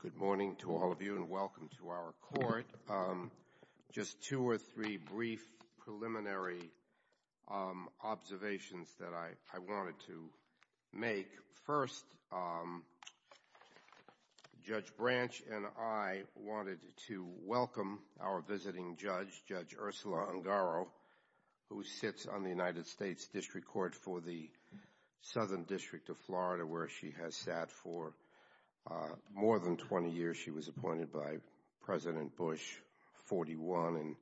Good morning to all of you and welcome to our court. Just two or three brief preliminary observations that I wanted to make. First, Judge Branch and I wanted to welcome our visiting judge, Judge Ursula Ungaro, who sits on the United States District Court for the Southern District of Florida, where she has sat for more than 20 years. She was appointed by President Bush, 41, in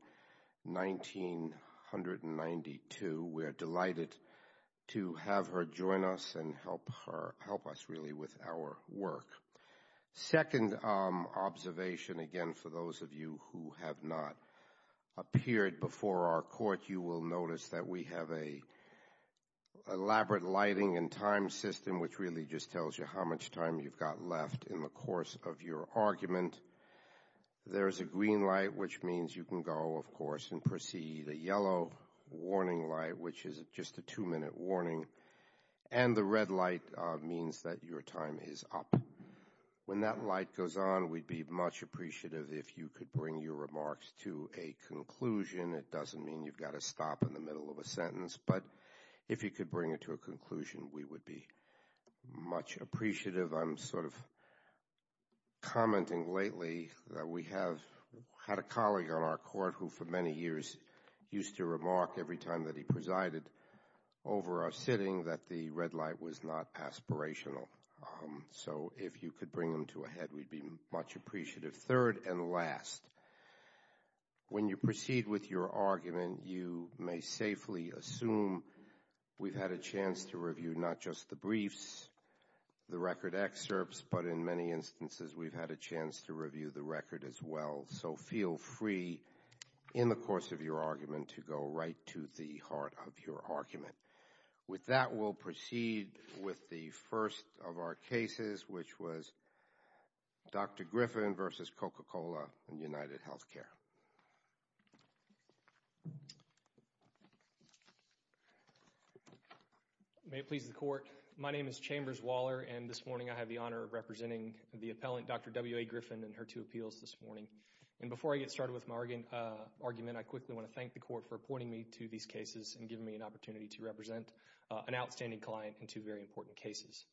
1992. We are delighted to have her join us and help us, really, with our work. Second observation, again, for those of you who have not appeared before our court, you will notice that we have an elaborate lighting and time system, which really just tells you how much time you've got left in the course of your argument. And there is a green light, which means you can go, of course, and proceed, a yellow warning light, which is just a two-minute warning, and the red light means that your time is up. When that light goes on, we'd be much appreciative if you could bring your remarks to a conclusion. It doesn't mean you've got to stop in the middle of a sentence, but if you could bring it to a conclusion, we would be much appreciative. I'm sort of commenting lately that we have had a colleague on our court who, for many years, used to remark every time that he presided over our sitting that the red light was not aspirational. So if you could bring him to a head, we'd be much appreciative. Third and last, when you proceed with your argument, you may safely assume we've had a chance to review not just the briefs, the record excerpts, but in many instances, we've had a chance to review the record as well. So feel free, in the course of your argument, to go right to the heart of your argument. With that, we'll proceed with the first of our cases, which was Dr. Griffin versus Coca-Cola and UnitedHealthcare. May it please the Court, my name is Chambers Waller, and this morning I have the honor of representing the appellant, Dr. W.A. Griffin, in her two appeals this morning. And before I get started with my argument, I quickly want to thank the Court for appointing me to these cases and giving me an opportunity to represent an outstanding client in two very important cases.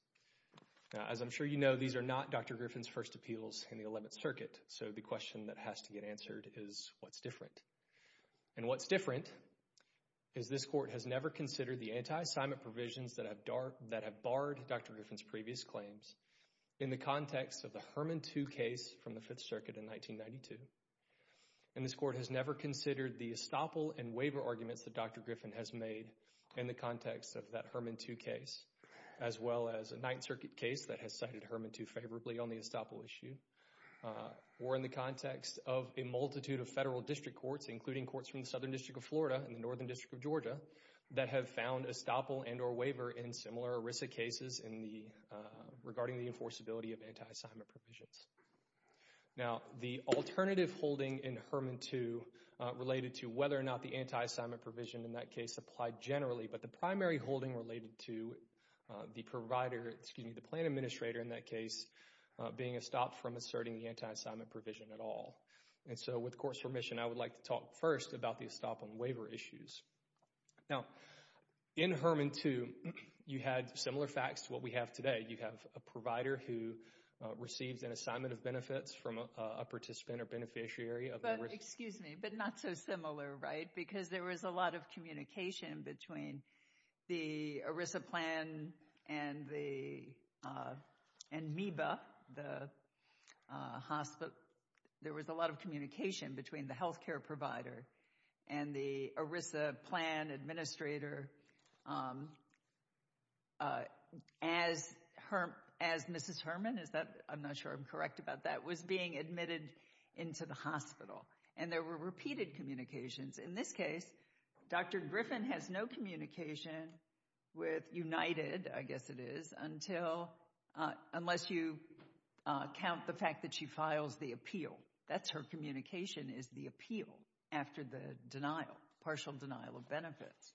As I'm sure you know, these are not Dr. Griffin's first appeals in the Eleventh Circuit, so the question that has to get answered is, what's different? And what's different is this Court has never considered the anti-assignment provisions that have barred Dr. Griffin's previous claims in the context of the Herman 2 case from the Fifth Circuit in 1992. And this Court has never considered the estoppel and waiver arguments that Dr. Griffin has made in the context of that Herman 2 case, as well as a Ninth Circuit case that has cited the context of a multitude of federal district courts, including courts from the Southern District of Florida and the Northern District of Georgia, that have found estoppel and or waiver in similar ERISA cases regarding the enforceability of anti-assignment provisions. Now the alternative holding in Herman 2 related to whether or not the anti-assignment provision in that case applied generally, but the primary holding related to the plan administrator in that case being estopped from asserting the anti-assignment provision at all. And so with Court's permission, I would like to talk first about the estoppel and waiver issues. Now in Herman 2, you had similar facts to what we have today. You have a provider who receives an assignment of benefits from a participant or beneficiary of the ERISA. But excuse me, but not so similar, right? Because there was a lot of communication between the ERISA plan and the, and MEBA, the hospital, there was a lot of communication between the healthcare provider and the ERISA plan administrator, as Mrs. Herman, is that, I'm not sure I'm correct about that, was being admitted into the hospital. And there were repeated communications. In this case, Dr. Griffin has no communication with United, I guess it is, until, unless you count the fact that she files the appeal. That's her communication is the appeal after the denial, partial denial of benefits.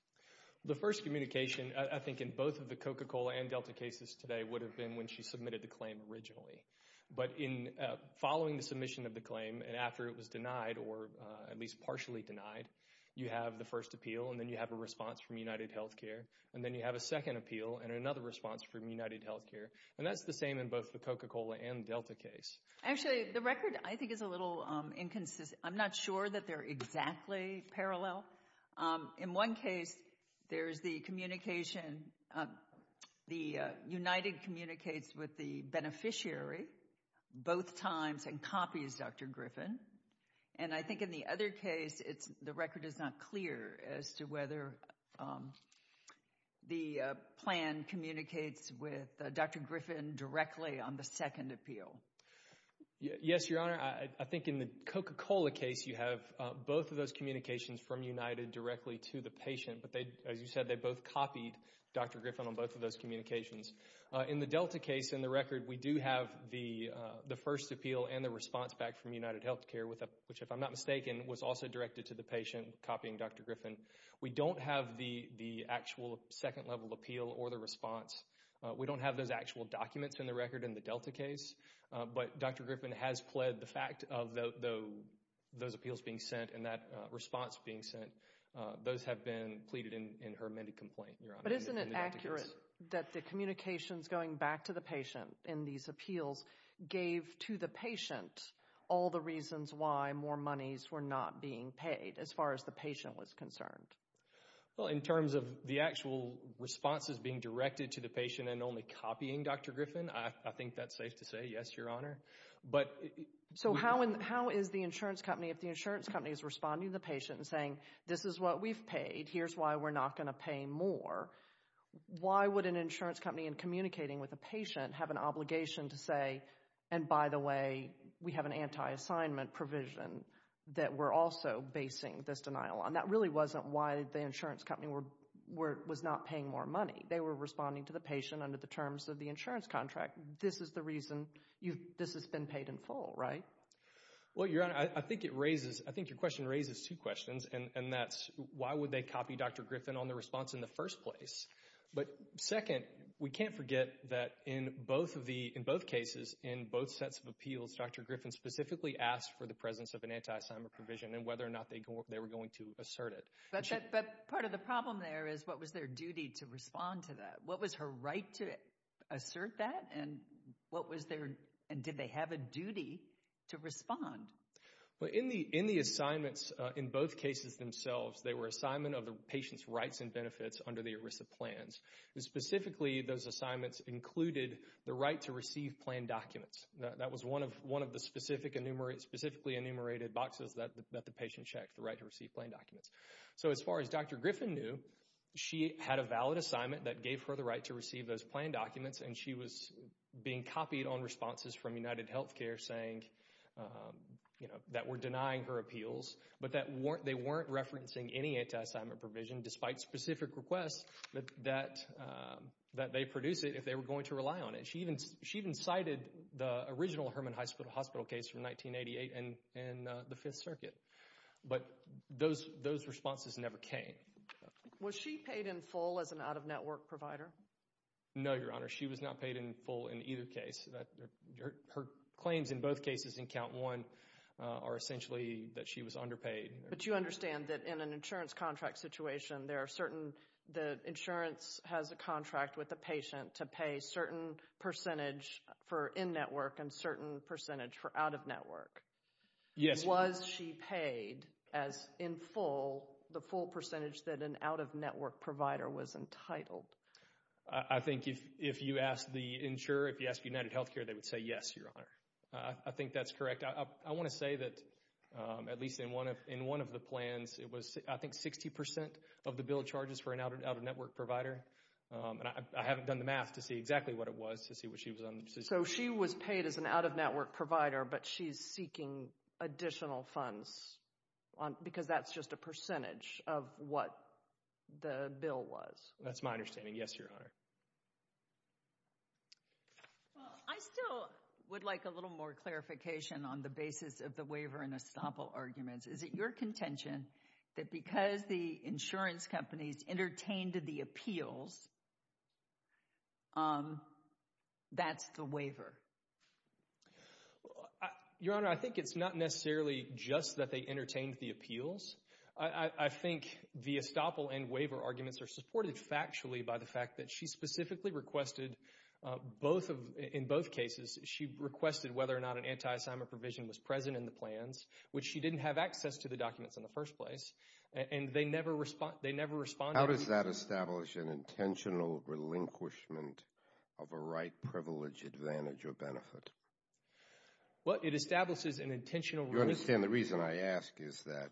The first communication, I think in both of the Coca-Cola and Delta cases today would have been when she submitted the claim originally. But in following the submission of the claim and after it was denied or at least partially denied, you have the first appeal and then you have a response from United Healthcare. And then you have a second appeal and another response from United Healthcare. And that's the same in both the Coca-Cola and Delta case. Actually, the record I think is a little inconsistent. I'm not sure that they're exactly parallel. In one case, there's the communication, the United communicates with the beneficiary both times and copies Dr. Griffin. And I think in the other case, the record is not clear as to whether the plan communicates with Dr. Griffin directly on the second appeal. Yes, Your Honor. I think in the Coca-Cola case, you have both of those communications from United directly to the patient. But as you said, they both copied Dr. Griffin on both of those communications. In the Delta case, in the record, we do have the first appeal and the response back from United Healthcare, which if I'm not mistaken, was also directed to the patient copying Dr. Griffin. We don't have the actual second level appeal or the response. We don't have those actual documents in the record in the Delta case. But Dr. Griffin has pled the fact of those appeals being sent and that response being sent. Those have been pleaded in her amended complaint, Your Honor. But isn't it accurate that the communications going back to the patient in these appeals gave to the patient all the reasons why more monies were not being paid as far as the patient was concerned? Well, in terms of the actual responses being directed to the patient and only copying Dr. Griffin, I think that's safe to say, yes, Your Honor. But so how and how is the insurance company, if the insurance company is responding to the patient and saying, this is what we've paid, here's why we're not going to pay more. Why would an insurance company in communicating with a patient have an obligation to say, and by the way, we have an anti-assignment provision that we're also basing this denial on? That really wasn't why the insurance company was not paying more money. They were responding to the patient under the terms of the insurance contract. This is the reason this has been paid in full, right? Well, Your Honor, I think it raises, I think your question raises two questions and that's why would they copy Dr. Griffin on the response in the first place? But second, we can't forget that in both cases, in both sets of appeals, Dr. Griffin specifically asked for the presence of an anti-assignment provision and whether or not they were going to assert it. But part of the problem there is what was their duty to respond to that? What was her right to assert that and what was their, and did they have a duty to respond? Well, in the assignments, in both cases themselves, they were assignment of the patient's rights and benefits under the ERISA plans. Specifically those assignments included the right to receive plan documents. That was one of the specific, specifically enumerated boxes that the patient checked, the right to receive plan documents. So as far as Dr. Griffin knew, she had a valid assignment that gave her the right to receive those plan documents and she was being copied on responses from UnitedHealthcare saying, you know, that were denying her appeals, but that weren't, they weren't referencing any anti-assignment provision despite specific requests that they produce it if they were going to rely on it. She even cited the original Hermann Hospital case from 1988 and the Fifth Circuit. But those responses never came. Was she paid in full as an out-of-network provider? No, Your Honor. She was not paid in full in either case. Her claims in both cases in count one are essentially that she was underpaid. But you understand that in an insurance contract situation, there are certain, the insurance has a contract with the patient to pay certain percentage for in-network and certain percentage for out-of-network. Yes. Was she paid as in full, the full percentage that an out-of-network provider was entitled? I think if you ask the insurer, if you ask UnitedHealthcare, they would say yes, Your Honor. I think that's correct. I want to say that at least in one of the plans, it was I think 60% of the bill charges for an out-of-network provider. I haven't done the math to see exactly what it was to see what she was on. So she was paid as an out-of-network provider, but she's seeking additional funds because that's just a percentage of what the bill was. That's my understanding. Yes, Your Honor. I still would like a little more clarification on the basis of the waiver and estoppel arguments. Is it your contention that because the insurance companies entertained the appeals, that's the waiver? Your Honor, I think it's not necessarily just that they entertained the appeals. I think the estoppel and waiver arguments are supported factually by the fact that she specifically requested, in both cases, she requested whether or not an anti-assignment provision was present in the plans, which she didn't have access to the documents in the first place, and they never responded. How does that establish an intentional relinquishment of a right, privilege, advantage, or benefit? Well, it establishes an intentional relinquishment. You understand the reason I ask is that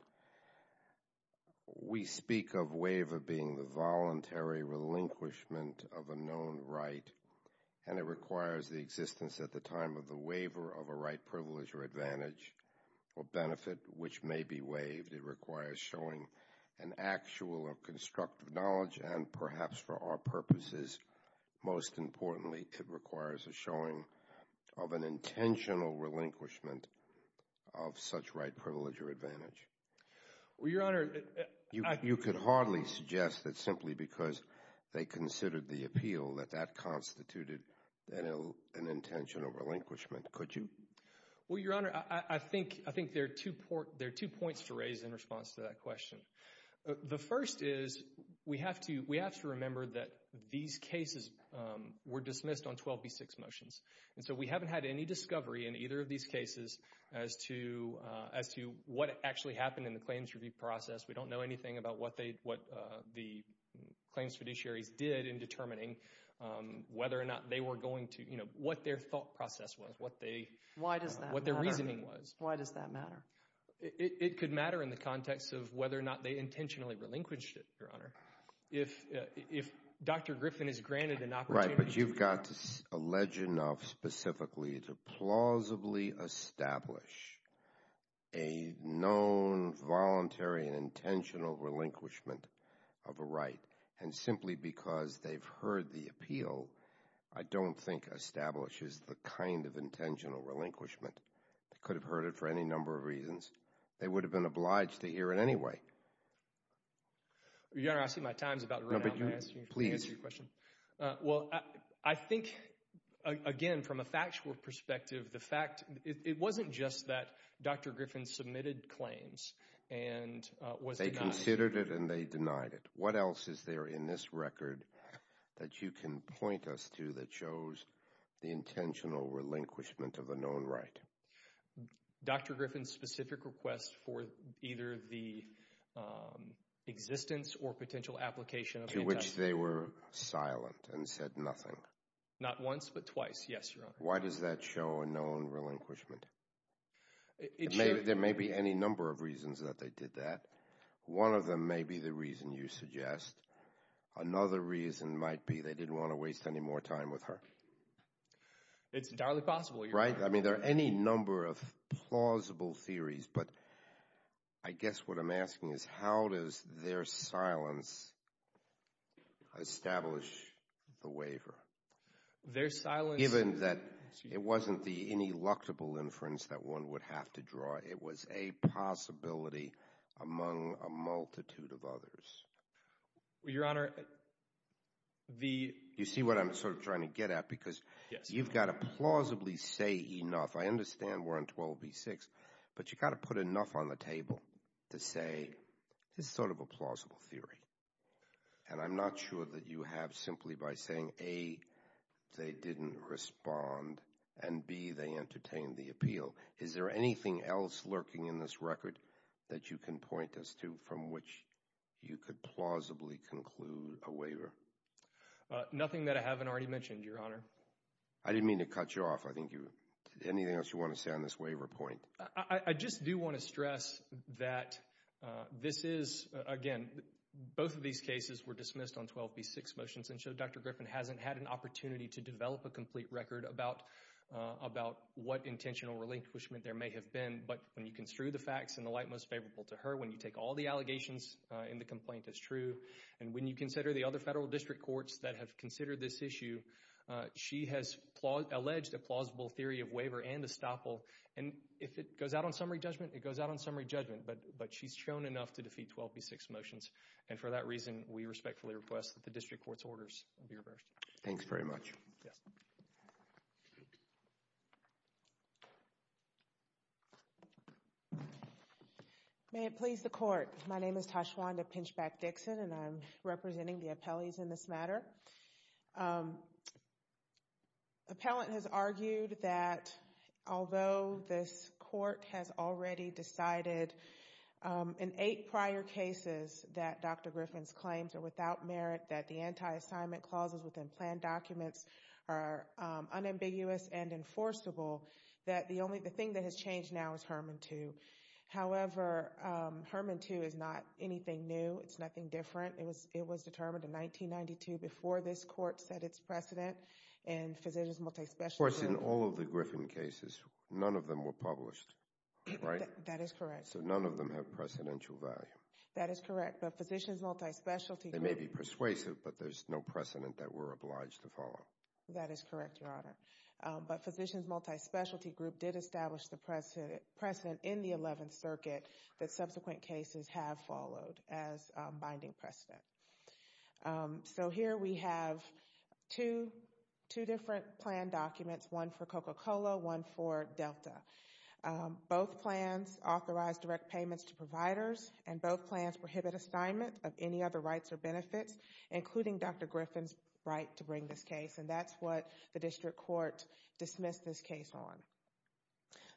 we speak of waiver being the voluntary relinquishment of a known right, and it requires the existence at the time of the waiver of a right, privilege, or advantage, or benefit, which may be waived. It requires showing an actual or constructive knowledge, and perhaps for our purposes, most of an intentional relinquishment of such right, privilege, or advantage. You could hardly suggest that simply because they considered the appeal that that constituted an intentional relinquishment, could you? Well, Your Honor, I think there are two points to raise in response to that question. The first is, we have to remember that these cases were dismissed on 12b6 motions, and so we haven't had any discovery in either of these cases as to what actually happened in the claims review process. We don't know anything about what the claims fiduciaries did in determining whether or not they were going to, you know, what their thought process was, what they, what their reasoning was. Why does that matter? It could matter in the context of whether or not they intentionally relinquished it, Your Honor. If, if Dr. Griffin is granted an opportunity to... Right, but you've got to allege enough specifically to plausibly establish a known voluntary and intentional relinquishment of a right. And simply because they've heard the appeal, I don't think establishes the kind of intentional relinquishment. They could have heard it for any number of reasons. They would have been obliged to hear it anyway. Your Honor, I see my time is about to run out, can I ask you, can I answer your question? No, but you, please. Well, I think, again, from a factual perspective, the fact, it wasn't just that Dr. Griffin submitted claims and was denied. They considered it and they denied it. What else is there in this record that you can point us to that shows the intentional relinquishment of a known right? Dr. Griffin's specific request for either the existence or potential application of intent... To which they were silent and said nothing. Not once, but twice, yes, Your Honor. Why does that show a known relinquishment? There may be any number of reasons that they did that. One of them may be the reason you suggest. Another reason might be they didn't want to waste any more time with her. It's entirely possible, Your Honor. Right? I mean, there are any number of plausible theories, but I guess what I'm asking is, how does their silence establish the waiver? Their silence... Given that it wasn't the ineluctable inference that one would have to draw. It was a possibility among a multitude of others. Your Honor, the... You see what I'm sort of trying to get at? Because you've got to plausibly say enough. I understand we're on 12b-6, but you've got to put enough on the table to say, this is sort of a plausible theory. And I'm not sure that you have simply by saying, A, they didn't respond, and B, they entertained the appeal. Is there anything else lurking in this record that you can point us to from which you could plausibly conclude a waiver? Nothing that I haven't already mentioned, Your Honor. I didn't mean to cut you off. I think you... Anything else you want to say on this waiver point? I just do want to stress that this is, again, both of these cases were dismissed on 12b-6 motions, and so Dr. Griffin hasn't had an opportunity to develop a complete record about what intentional relinquishment there may have been. But when you construe the facts in the light most favorable to her, when you take all the district courts that have considered this issue, she has alleged a plausible theory of waiver and estoppel, and if it goes out on summary judgment, it goes out on summary judgment. But she's shown enough to defeat 12b-6 motions, and for that reason, we respectfully request that the district court's orders be reversed. Yes. May it please the Court. My name is Tashwanda Pinchback-Dixon, and I'm representing the appellees in this matter. Appellant has argued that although this court has already decided, in eight prior cases that Dr. Griffin's claims are without merit, that the anti-assignment clauses within planned documents are unambiguous and enforceable, that the only thing that has changed now is Herman 2. However, Herman 2 is not anything new. It's nothing different. It was determined in 1992 before this court set its precedent, and Physicians Multispecialty Group— Of course, in all of the Griffin cases, none of them were published, right? That is correct. So none of them have precedential value. That is correct. But Physicians Multispecialty Group— They may be persuasive, but there's no precedent that we're obliged to follow. That is correct, Your Honor. But Physicians Multispecialty Group did establish the precedent in the 11th Circuit that subsequent cases have followed as binding precedent. So here we have two different planned documents, one for Coca-Cola, one for Delta. Both plans authorize direct payments to providers, and both plans prohibit assignment of any other rights or benefits, including Dr. Griffin's right to bring this case, and that's what the District Court dismissed this case on.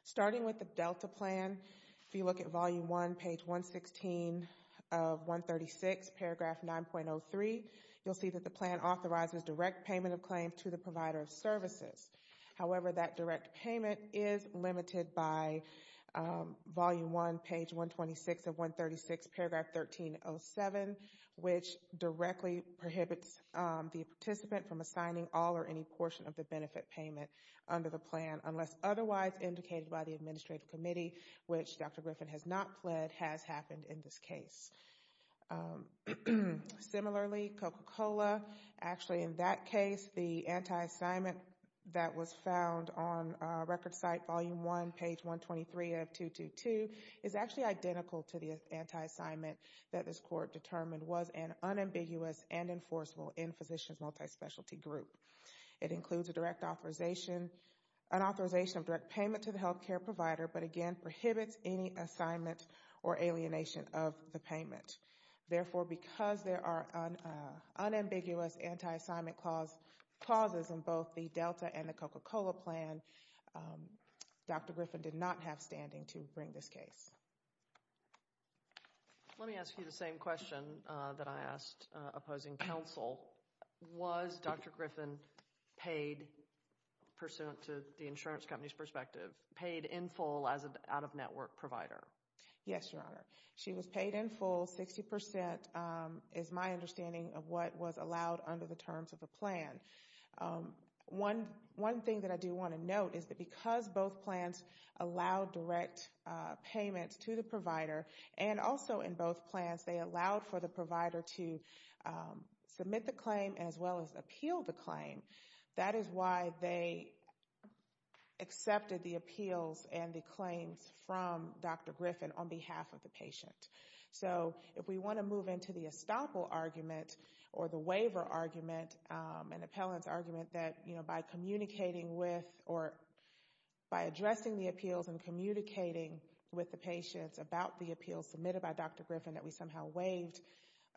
Starting with the Delta plan, if you look at Volume 1, page 116 of 136, paragraph 9.03, you'll see that the plan authorizes direct payment of claims to the provider of services. However, that direct payment is limited by Volume 1, page 126 of 136, paragraph 1307, which directly prohibits the participant from assigning all or any portion of the benefit payment under the plan, unless otherwise indicated by the Administrative Committee, which Dr. Griffin has not pled, has happened in this case. Similarly, Coca-Cola, actually in that case, the anti-assignment that was found on Record Site Volume 1, page 123 of 222, is actually identical to the anti-assignment that this was an unambiguous and enforceable in-physicians multispecialty group. It includes a direct authorization, an authorization of direct payment to the healthcare provider, but again prohibits any assignment or alienation of the payment. Therefore, because there are unambiguous anti-assignment clauses in both the Delta and the Coca-Cola plan, Dr. Griffin did not have standing to bring this case. Let me ask you the same question that I asked opposing counsel. Was Dr. Griffin paid, pursuant to the insurance company's perspective, paid in full as an out-of-network provider? Yes, Your Honor. She was paid in full, 60% is my understanding of what was allowed under the terms of the plan. One thing that I do want to note is that because both plans allowed direct payment to the provider, and also in both plans they allowed for the provider to submit the claim as well as appeal the claim, that is why they accepted the appeals and the claims from Dr. Griffin on behalf of the patient. So if we want to move into the estoppel argument or the waiver argument, an appellant's argument that by communicating with or by addressing the appeals and communicating with the patients about the appeals submitted by Dr. Griffin that we somehow waived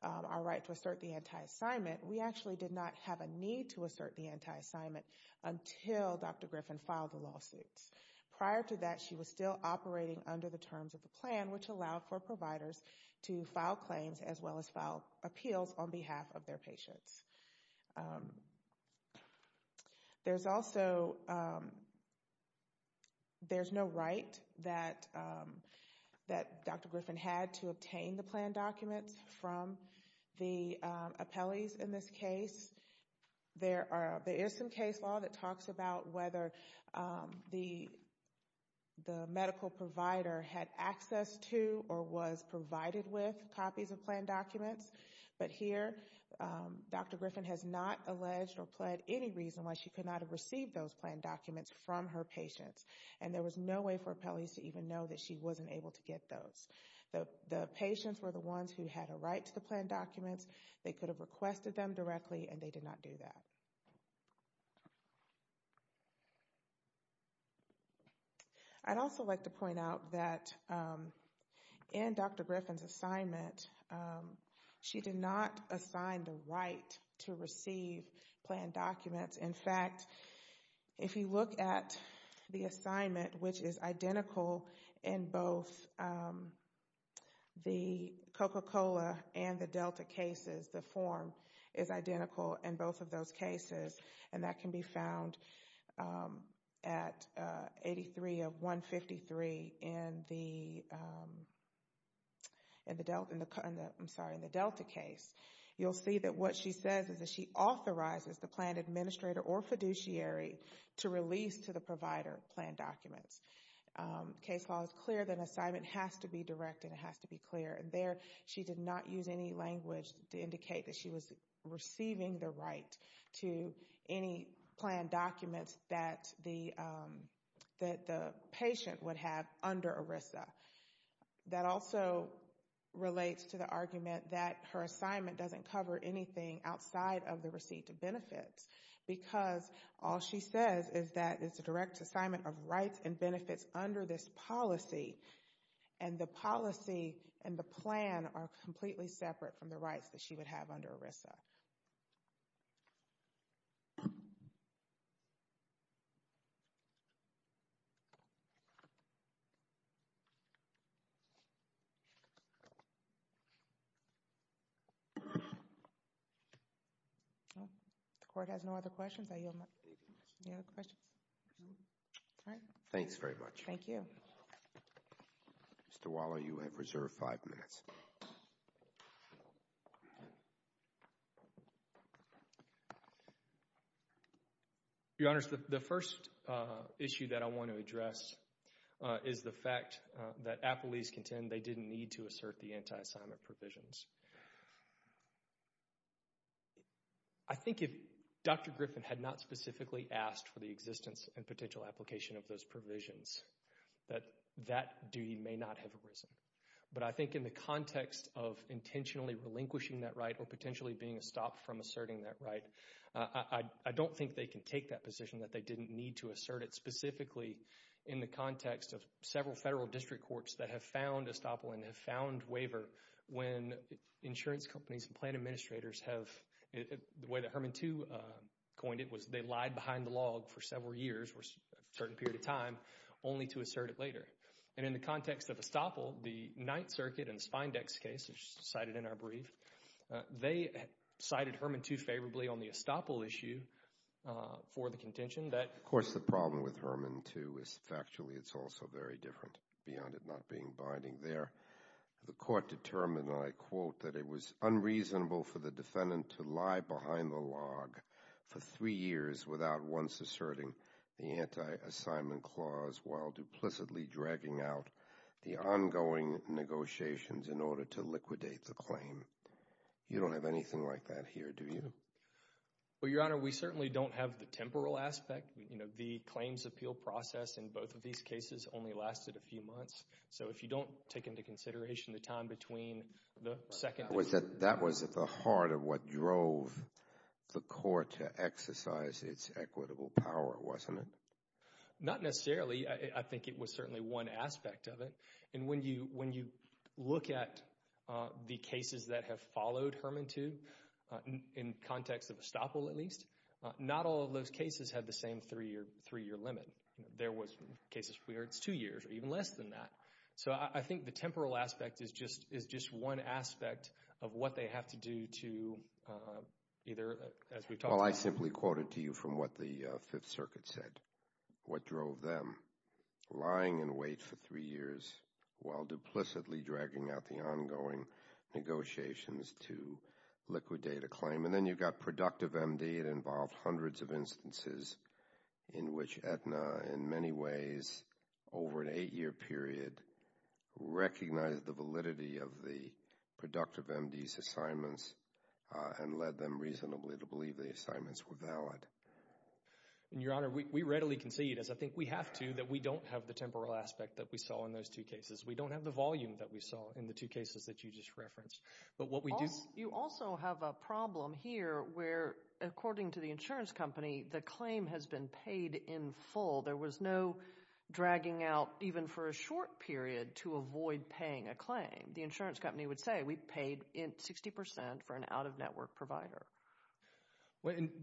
our right to assert the anti-assignment, we actually did not have a need to assert the anti-assignment until Dr. Griffin filed the lawsuits. Prior to that, she was still operating under the terms of the plan, which allowed for providers to file claims as well as file appeals on behalf of their patients. There's also, there's no right that Dr. Griffin had to obtain the plan documents from the appellees in this case. There are, there is some case law that talks about whether the medical provider had access to or was provided with copies of plan documents, but here Dr. Griffin has not alleged or pled any reason why she could not have received those plan documents from her patients. And there was no way for appellees to even know that she wasn't able to get those. The patients were the ones who had a right to the plan documents, they could have requested them directly and they did not do that. I'd also like to point out that in Dr. Griffin's assignment, she did not assign the right to receive plan documents. In fact, if you look at the assignment, which is identical in both the Coca-Cola and the is identical in both of those cases, and that can be found at 83 of 153 in the Delta case. You'll see that what she says is that she authorizes the plan administrator or fiduciary to release to the provider plan documents. Case law is clear that an assignment has to be directed, it has to be clear. There, she did not use any language to indicate that she was receiving the right to any plan documents that the patient would have under ERISA. That also relates to the argument that her assignment doesn't cover anything outside of the receipt of benefits because all she says is that it's a direct assignment of rights and benefits under this policy, and the policy and the plan are completely separate from the rights that she would have under ERISA. The court has no other questions. I yield my time. Any other questions? All right. Thank you. Thanks very much. Thank you. Mr. Waller, you have reserved five minutes. Your Honors, the first issue that I want to address is the fact that Appleese contend they didn't need to assert the anti-assignment provisions. I think if Dr. Griffin had not specifically asked for the existence and potential application of those provisions, that that duty may not have arisen. But I think in the context of intentionally relinquishing that right or potentially being a stop from asserting that right, I don't think they can take that position that they didn't need to assert it specifically in the context of several federal district courts that have found estoppel and have found waiver when insurance companies and plan administrators have, the way that Herman Too coined it, was they lied behind the log for several years for a certain period of time only to assert it later. And in the context of estoppel, the Ninth Circuit and Spindex case, which is cited in our brief, they cited Herman Too favorably on the estoppel issue for the contention that Of course, the problem with Herman Too is factually it's also very different beyond it not being binding there. The court determined, and I quote, that it was unreasonable for the defendant to lie behind the log for three years without once asserting the anti-assignment clause while duplicitly dragging out the ongoing negotiations in order to liquidate the claim. You don't have anything like that here, do you? Well, Your Honor, we certainly don't have the temporal aspect. The claims appeal process in both of these cases only lasted a few months. So if you don't take into consideration the time between the second... That was at the heart of what drove the court to exercise its equitable power, wasn't it? Not necessarily. I think it was certainly one aspect of it. And when you look at the cases that have followed Herman Too, in context of estoppel at least, not all of those cases had the same three-year limit. There was cases where it's two years or even less than that. So I think the temporal aspect is just one aspect of what they have to do to either, as we've talked about... Well, I simply quote it to you from what the Fifth Circuit said. What drove them? Lying in wait for three years while duplicitly dragging out the ongoing negotiations to liquidate a claim. And then you've got productive MD. It involved hundreds of instances in which Aetna, in many ways, over an eight-year period recognized the validity of the productive MD's assignments and led them reasonably to believe the assignments were valid. And, Your Honor, we readily concede, as I think we have to, that we don't have the temporal aspect that we saw in those two cases. We don't have the volume that we saw in the two cases that you just referenced. But what we do... You also have a problem here where, according to the insurance company, the claim has been paid in full. There was no dragging out, even for a short period, to avoid paying a claim. The insurance company would say, we paid 60% for an out-of-network provider.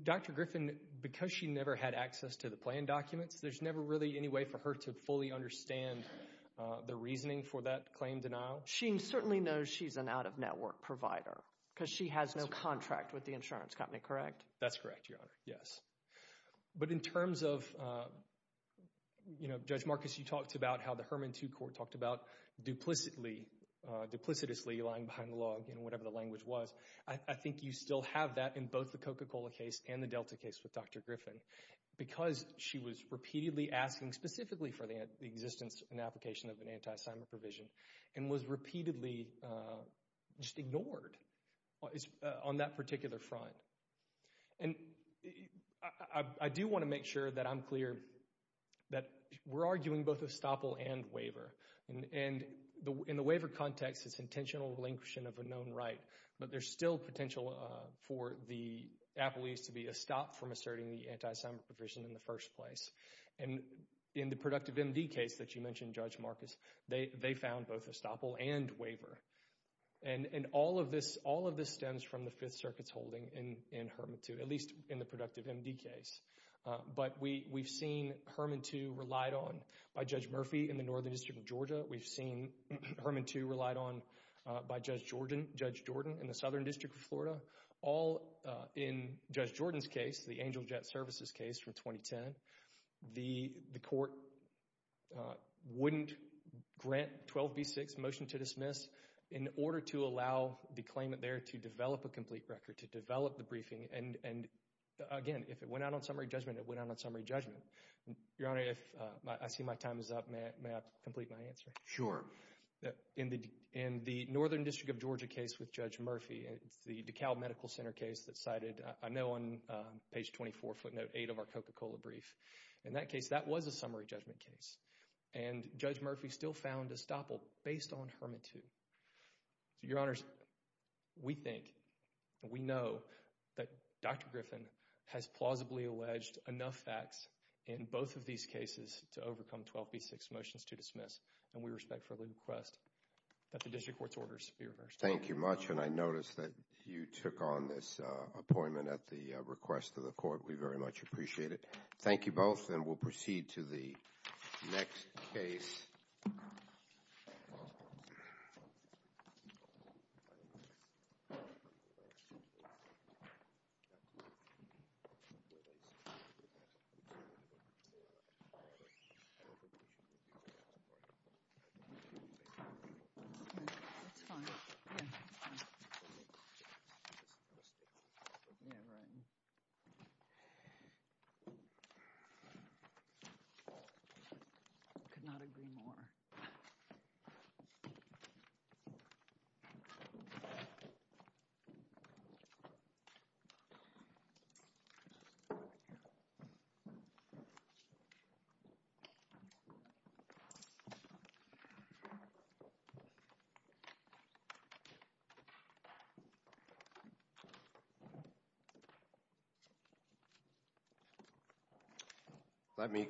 Dr. Griffin, because she never had access to the plan documents, there's never really any way for her to fully understand the reasoning for that claim denial? She certainly knows she's an out-of-network provider because she has no contract with the insurance company, correct? That's correct, Your Honor, yes. But in terms of, you know, Judge Marcus, you talked about how the Herman Too Court talked about duplicitously lying behind the log in whatever the language was. I think you still have that in both the Coca-Cola case and the Delta case with Dr. Griffin because she was repeatedly asking specifically for the existence and application of an anti-assignment provision and was repeatedly just ignored on that particular front. And I do want to make sure that I'm clear that we're arguing both estoppel and waiver. And in the waiver context, it's intentional relinquishing of a known right, but there's still potential for the apologies to be a stop from asserting the anti-assignment provision in the first place. And in the Productive MD case that you mentioned, Judge Marcus, they found both estoppel and waiver. And all of this stems from the Fifth Circuit's holding in Herman Too, at least in the Productive MD case. But we've seen Herman Too relied on by Judge Murphy in the Northern District of Georgia. We've seen Herman Too relied on by Judge Jordan in the Southern District of Florida, all in Judge Jordan's case, the Angel Jet Services case from 2010. The court wouldn't grant 12b-6, motion to dismiss, in order to allow the claimant there to develop a complete record, to develop the briefing. And again, if it went out on summary judgment, it went out on summary judgment. Your Honor, if I see my time is up, may I complete my answer? Sure. In the Northern District of Georgia case with Judge Murphy, it's the DeKalb Medical Center case that cited, I know on page 24 footnote 8 of our Coca-Cola brief. In that case, that was a summary judgment case. And Judge Murphy still found estoppel based on Herman Too. So, Your Honors, we think, we know that Dr. Griffin has plausibly alleged enough facts in both of these cases to overcome 12b-6, motions to dismiss. And we respectfully request that the district court's orders be reversed. Thank you much. And I noticed that you took on this appointment at the request of the court. We very much appreciate it. Thank you both. And we'll proceed to the next case. Thank you.